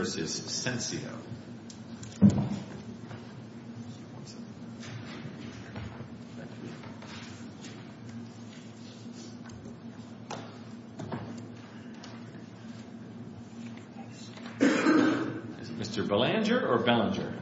v. Sensio. Is it Mr. Belanger or Belanger?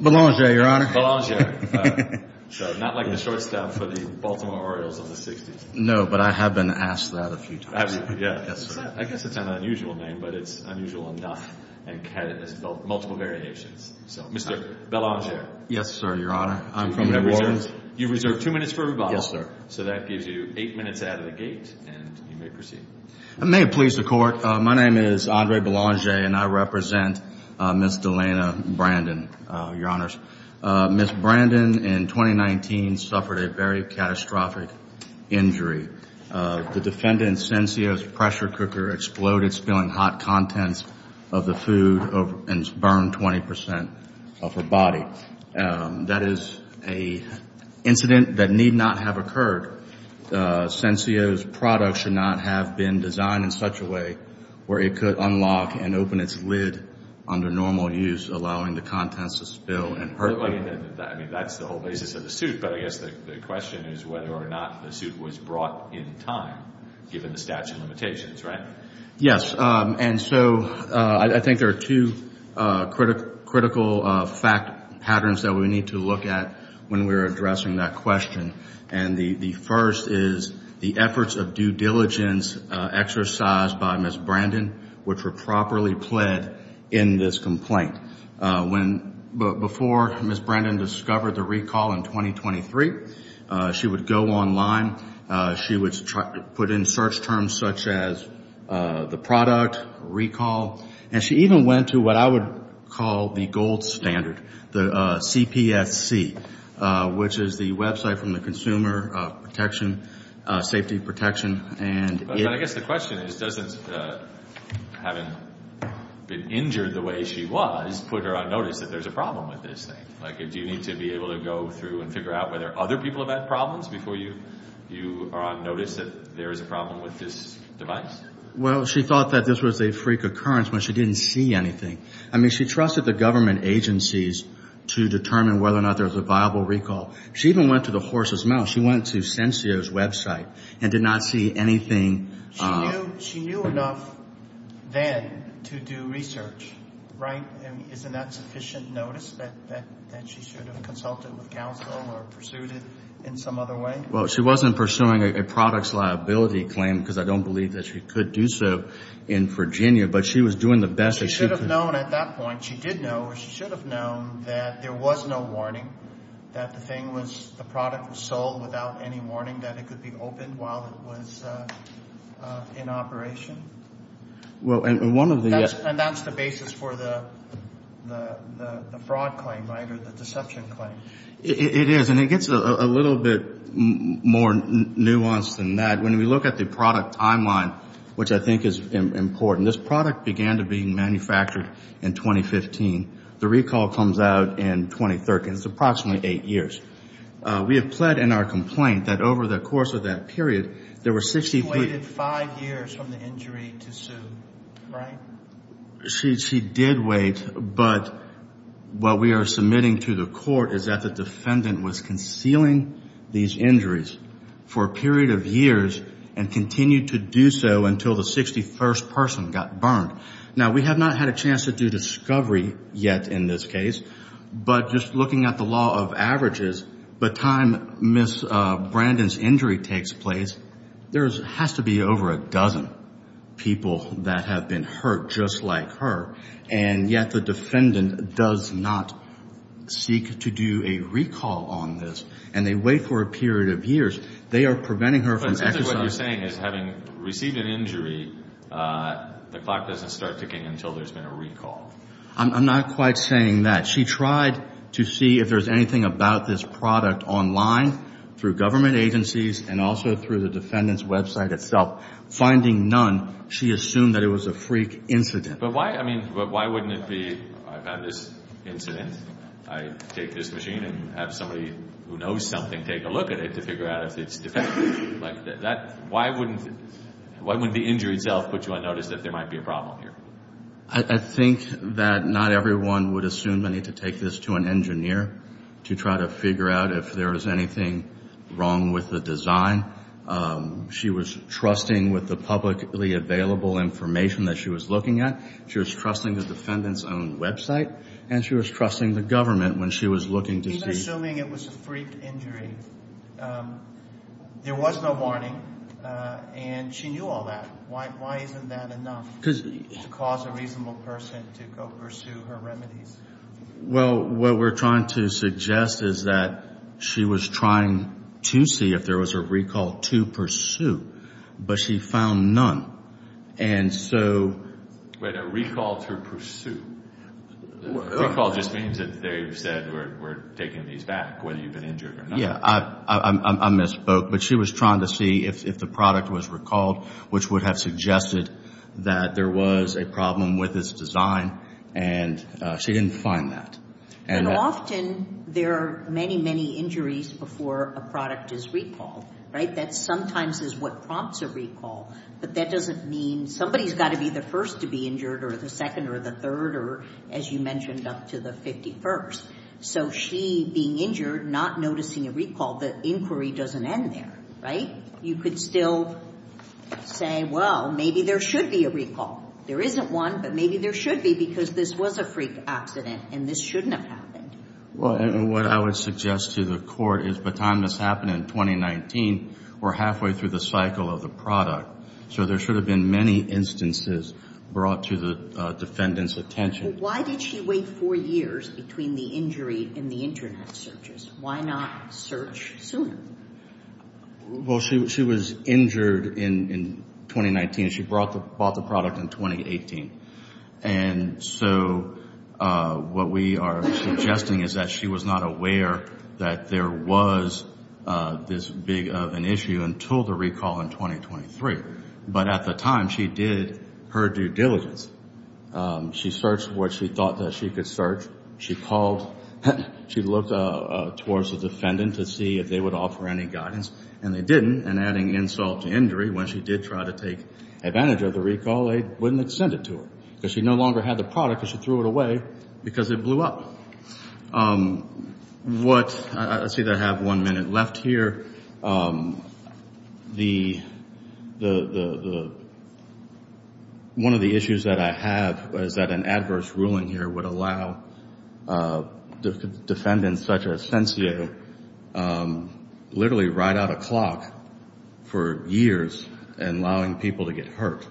Belanger, Your Honor. Belanger. So not like the shortstop for the Baltimore Orioles of the 60s. No, but I have been asked that a few times. I guess it's an unusual name, but it's unusual enough and has multiple variations. So, Mr. Belanger. Yes, sir, Your Honor. I'm from New Orleans. You've reserved two minutes for rebuttal. Yes, sir. So that gives you eight minutes out of the gate, and you may proceed. I may have pleased the Court. My name is Andre Belanger, and I represent Ms. Delana Brandon, Your Honors. Ms. Brandon, in 2019, suffered a very catastrophic injury. The defendant Sensio's pressure cooker exploded, spilling hot contents of the food and burned 20 percent of her body. That is an incident that need not have occurred. Sensio's product should not have been designed in such a way where it could unlock and open its lid under normal use, allowing the contents to spill and hurt people. I mean, that's the whole basis of the suit. But I guess the question is whether or not the suit was brought in time, given the statute of limitations, right? Yes. And so I think there are two critical fact patterns that we need to look at when we're addressing that question. And the first is the efforts of due diligence exercised by Ms. Brandon, which were properly pled in this complaint. Before Ms. Brandon discovered the recall in 2023, she would go online. She would put in search terms such as the product, recall. And she even went to what I would call the gold standard, the CPSC, which is the website from the Consumer Safety Protection. But I guess the question is, having been injured the way she was, put her on notice that there's a problem with this thing. Do you need to be able to go through and figure out whether other people have had problems before you are on notice that there is a problem with this device? Well, she thought that this was a freak occurrence when she didn't see anything. I mean, she trusted the government agencies to determine whether or not there was a viable recall. She even went to the horse's mouth. She went to Sensio's website and did not see anything. She knew enough then to do research, right? Isn't that sufficient notice that she should have consulted with counsel or pursued it in some other way? Well, she wasn't pursuing a product's liability claim because I don't believe that she could do so in Virginia. But she was doing the best that she could. She should have known at that point. She did know or she should have known that there was no warning, that the thing was, the product was sold without any warning, that it could be opened while it was in operation. And that's the basis for the fraud claim, right, or the deception claim. It is, and it gets a little bit more nuanced than that. When we look at the product timeline, which I think is important, this product began to be manufactured in 2015. The recall comes out in 2013. It's approximately eight years. We have pled in our complaint that over the course of that period, there were 63. She waited five years from the injury to sue, right? She did wait. But what we are submitting to the court is that the defendant was concealing these injuries for a period of years and continued to do so until the 61st person got burned. Now, we have not had a chance to do discovery yet in this case. But just looking at the law of averages, the time Ms. Brandon's injury takes place, there has to be over a dozen people that have been hurt just like her, and yet the defendant does not seek to do a recall on this, and they wait for a period of years. They are preventing her from exercising. But simply what you're saying is having received an injury, the clock doesn't start ticking until there's been a recall. I'm not quite saying that. She tried to see if there's anything about this product online through government agencies and also through the defendant's website itself. Finding none, she assumed that it was a freak incident. But why, I mean, why wouldn't it be, I've had this incident, I take this machine and have somebody who knows something take a look at it to figure out if it's defective. Why wouldn't the injury itself put you on notice that there might be a problem here? I think that not everyone would assume they need to take this to an engineer to try to figure out if there is anything wrong with the design. She was trusting with the publicly available information that she was looking at. She was trusting the defendant's own website, and she was trusting the government when she was looking to see. Even assuming it was a freak injury, there was no warning, and she knew all that. Why isn't that enough? To cause a reasonable person to go pursue her remedies. Well, what we're trying to suggest is that she was trying to see if there was a recall to pursue, but she found none. And so... Wait, a recall to pursue? A recall just means that they've said we're taking these back, whether you've been injured or not. Yeah, I misspoke. But she was trying to see if the product was recalled, which would have suggested that there was a problem with its design, and she didn't find that. And often there are many, many injuries before a product is recalled, right? That sometimes is what prompts a recall, but that doesn't mean somebody's got to be the first to be injured or the second or the third or, as you mentioned, up to the 51st. So she being injured, not noticing a recall, the inquiry doesn't end there, right? You could still say, well, maybe there should be a recall. There isn't one, but maybe there should be because this was a freak accident and this shouldn't have happened. Well, what I would suggest to the court is baton this happened in 2019. We're halfway through the cycle of the product, so there should have been many instances brought to the defendant's attention. Why did she wait four years between the injury and the Internet searches? Why not search sooner? Well, she was injured in 2019. She bought the product in 2018. And so what we are suggesting is that she was not aware that there was this big of an issue until the recall in 2023. But at the time, she did her due diligence. She searched what she thought that she could search. She looked towards the defendant to see if they would offer any guidance, and they didn't. And adding insult to injury, when she did try to take advantage of the recall, they wouldn't have sent it to her because she no longer had the product and she threw it away because it blew up. I see that I have one minute left here. One of the issues that I have is that an adverse ruling here would allow defendants such as Fencio literally ride out a clock for years and allowing people to get hurt.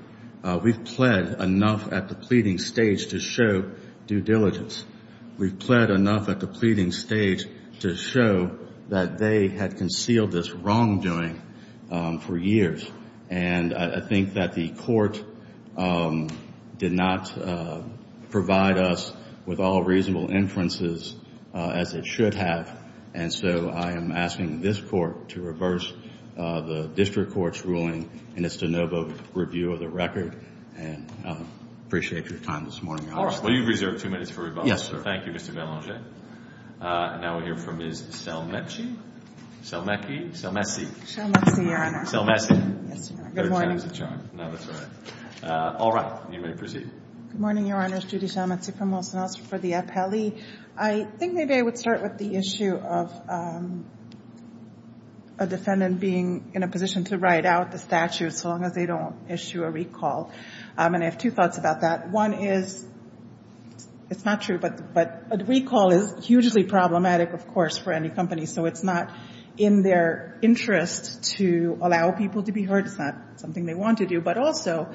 We've pled enough at the pleading stage to show due diligence. We've pled enough at the pleading stage to show that they had concealed this wrongdoing for years. And I think that the court did not provide us with all reasonable inferences as it should have. And so I am asking this court to reverse the district court's ruling in its de novo review of the record. And I appreciate your time this morning, Your Honor. Of course. Well, you've reserved two minutes for rebuttal. Thank you, Mr. Belanger. Now we'll hear from Ms. Salmeci. Salmeci. Salmeci. Salmeci, Your Honor. Salmeci. Yes, Your Honor. Good morning. That was a charm. No, that's all right. All right. You may proceed. Good morning, Your Honors. Judy Salmeci from Wilson House for the appellee. I think maybe I would start with the issue of a defendant being in a position to ride out the statute so long as they don't issue a recall. And I have two thoughts about that. One is, it's not true, but a recall is hugely problematic, of course, for any company. So it's not in their interest to allow people to be hurt. It's not something they want to do. But also,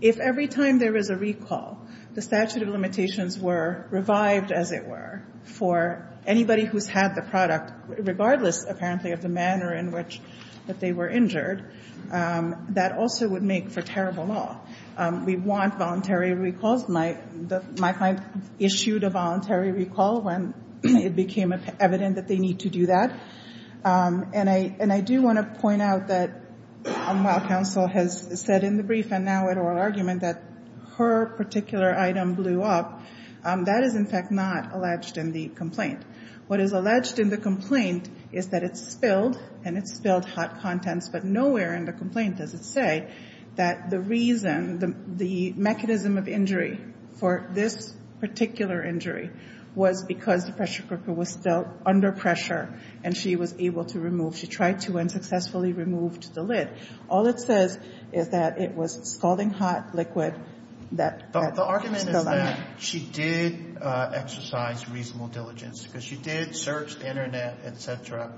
if every time there is a recall, the statute of limitations were revived, as it were, for anybody who's had the product, regardless, apparently, of the manner in which they were injured, that also would make for terrible law. We want voluntary recalls. My client issued a voluntary recall when it became evident that they need to do that. And I do want to point out that while counsel has said in the brief and now in oral argument that her particular item blew up, that is, in fact, not alleged in the complaint. What is alleged in the complaint is that it spilled, and it spilled hot contents, but nowhere in the complaint does it say that the reason, the mechanism of injury for this particular injury was because the pressure cooker was still under pressure and she was able to remove. She tried to and successfully removed the lid. All it says is that it was spalling hot liquid that spilled on it. The argument is that she did exercise reasonable diligence because she did search the Internet, et cetera.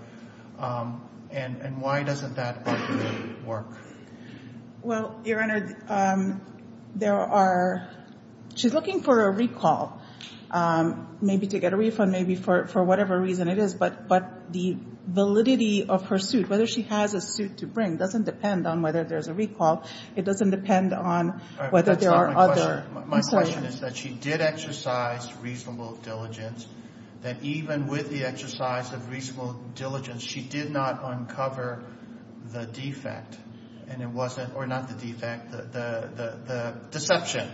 And why doesn't that work? Well, Your Honor, there are – she's looking for a recall, maybe to get a refund, maybe for whatever reason it is. But the validity of her suit, whether she has a suit to bring, doesn't depend on whether there's a recall. It doesn't depend on whether there are other assertions. My question is that she did exercise reasonable diligence, that even with the exercise of reasonable diligence, she did not uncover the defect. And it wasn't – or not the defect, the deception.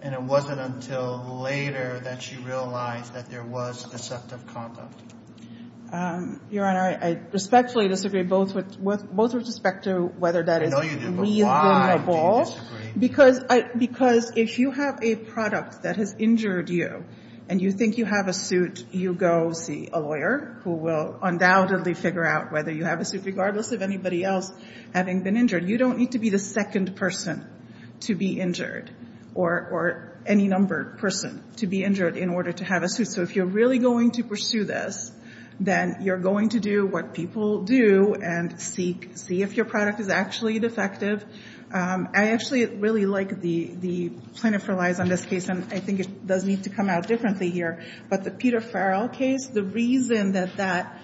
And it wasn't until later that she realized that there was deceptive conduct. Your Honor, I respectfully disagree both with – both with respect to whether that is reasonable at all. I know you do, but why do you disagree? Because if you have a product that has injured you and you think you have a suit, you go see a lawyer who will undoubtedly figure out whether you have a suit, regardless of anybody else having been injured. You don't need to be the second person to be injured or any numbered person to be injured in order to have a suit. So if you're really going to pursue this, then you're going to do what people do and see if your product is actually defective. I actually really like the plaintiff relies on this case, and I think it does need to come out differently here. But the Peter Farrell case, the reason that that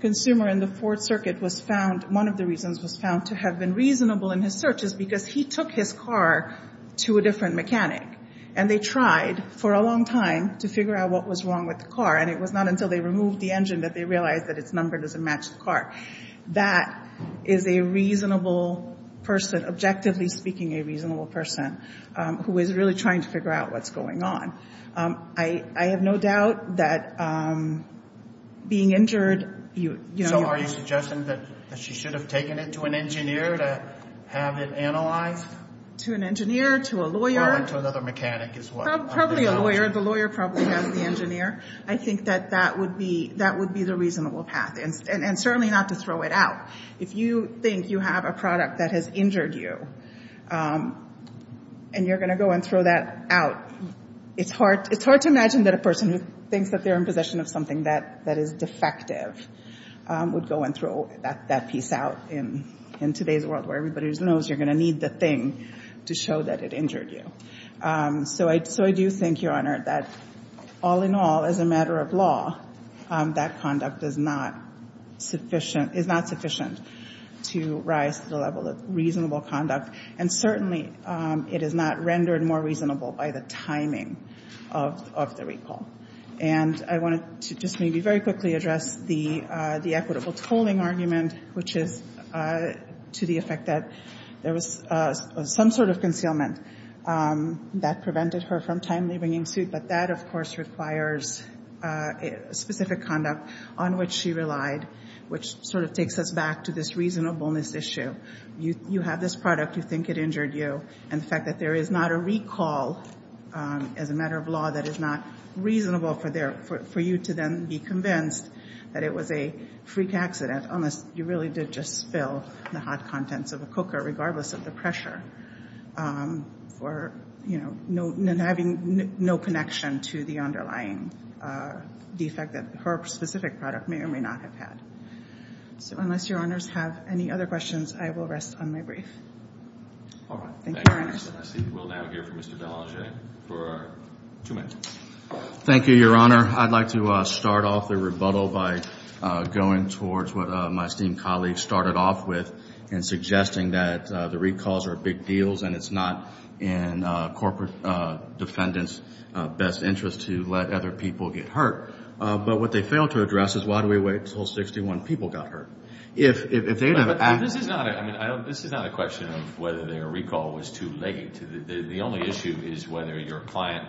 consumer in the Ford circuit was found – one of the reasons was found to have been reasonable in his search is because he took his car to a different mechanic. And they tried for a long time to figure out what was wrong with the car. And it was not until they removed the engine that they realized that its number doesn't match the car. That is a reasonable person, objectively speaking a reasonable person, who is really trying to figure out what's going on. I have no doubt that being injured – So are you suggesting that she should have taken it to an engineer to have it analyzed? To an engineer, to a lawyer. Or to another mechanic is what – Probably a lawyer. The lawyer probably has the engineer. I think that that would be the reasonable path. And certainly not to throw it out. If you think you have a product that has injured you, and you're going to go and throw that out, it's hard to imagine that a person who thinks that they're in possession of something that is defective would go and throw that piece out in today's world where everybody knows you're going to need the thing to show that it injured you. So I do think, Your Honor, that all in all, as a matter of law, that conduct is not sufficient to rise to the level of reasonable conduct. And certainly it is not rendered more reasonable by the timing of the recall. And I wanted to just maybe very quickly address the equitable tolling argument, which is to the effect that there was some sort of concealment that prevented her from timely bringing suit. But that, of course, requires specific conduct on which she relied, which sort of takes us back to this reasonableness issue. You have this product. You think it injured you. And the fact that there is not a recall, as a matter of law, that is not reasonable for you to then be convinced that it was a freak accident, unless you really did just spill the hot contents of a cooker, regardless of the pressure, for having no connection to the underlying defect that her specific product may or may not have had. So unless Your Honors have any other questions, I will rest on my brief. Thank you, Your Honor. I see we'll now hear from Mr. Belanger for two minutes. Thank you, Your Honor. I'd like to start off the rebuttal by going towards what my esteemed colleagues started off with in suggesting that the recalls are big deals and it's not in corporate defendants' best interest to let other people get hurt. But what they failed to address is why do we wait until 61 people got hurt? This is not a question of whether their recall was too late. The only issue is whether your client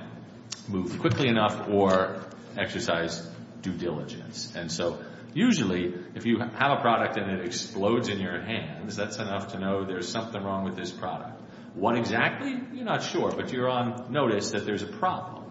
moved quickly enough or exercised due diligence. And so usually if you have a product and it explodes in your hands, that's enough to know there's something wrong with this product. What exactly? You're not sure, but you're on notice that there's a problem.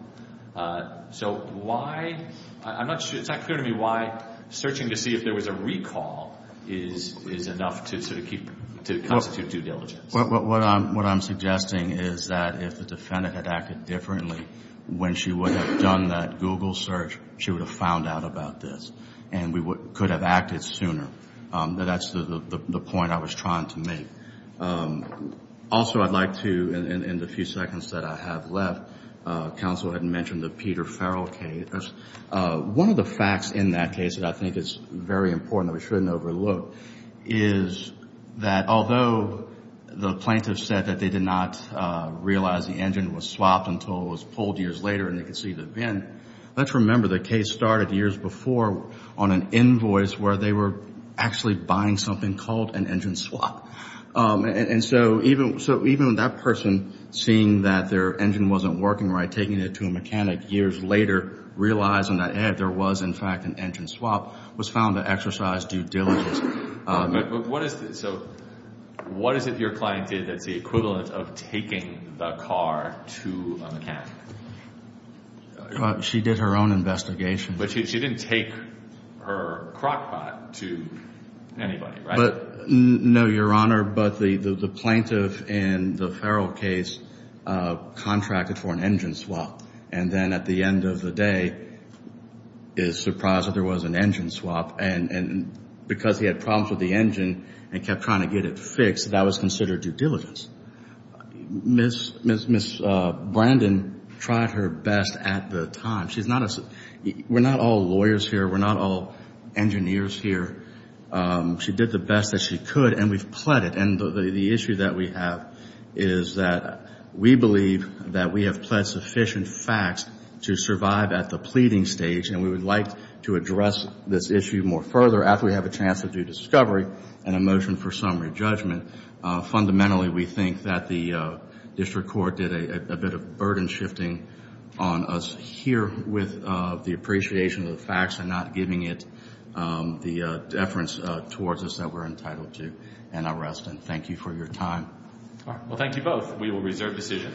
So why? It's not clear to me why searching to see if there was a recall is enough to constitute due diligence. What I'm suggesting is that if the defendant had acted differently, when she would have done that Google search, she would have found out about this and could have acted sooner. That's the point I was trying to make. Also I'd like to, in the few seconds that I have left, counsel had mentioned the Peter Farrell case. One of the facts in that case that I think is very important that we shouldn't overlook is that although the plaintiff said that they did not realize the engine was swapped until it was pulled years later and they could see the VIN, let's remember the case started years before on an invoice where they were actually buying something called an engine swap. So even that person, seeing that their engine wasn't working right, taking it to a mechanic years later, realizing that there was in fact an engine swap, was found to exercise due diligence. So what is it your client did that's the equivalent of taking the car to a mechanic? She did her own investigation. But she didn't take her crockpot to anybody, right? No, Your Honor, but the plaintiff in the Farrell case contracted for an engine swap and then at the end of the day is surprised that there was an engine swap and because he had problems with the engine and kept trying to get it fixed, that was considered due diligence. Ms. Brandon tried her best at the time. We're not all lawyers here. We're not all engineers here. She did the best that she could and we've pled it. And the issue that we have is that we believe that we have pled sufficient facts to survive at the pleading stage and we would like to address this issue more further after we have a chance to do discovery and a motion for summary judgment. Fundamentally, we think that the district court did a bit of burden shifting on us here with the appreciation of the facts and not giving it the deference towards us that we're entitled to an arrest and thank you for your time. All right. Well, thank you both. We will reserve decision.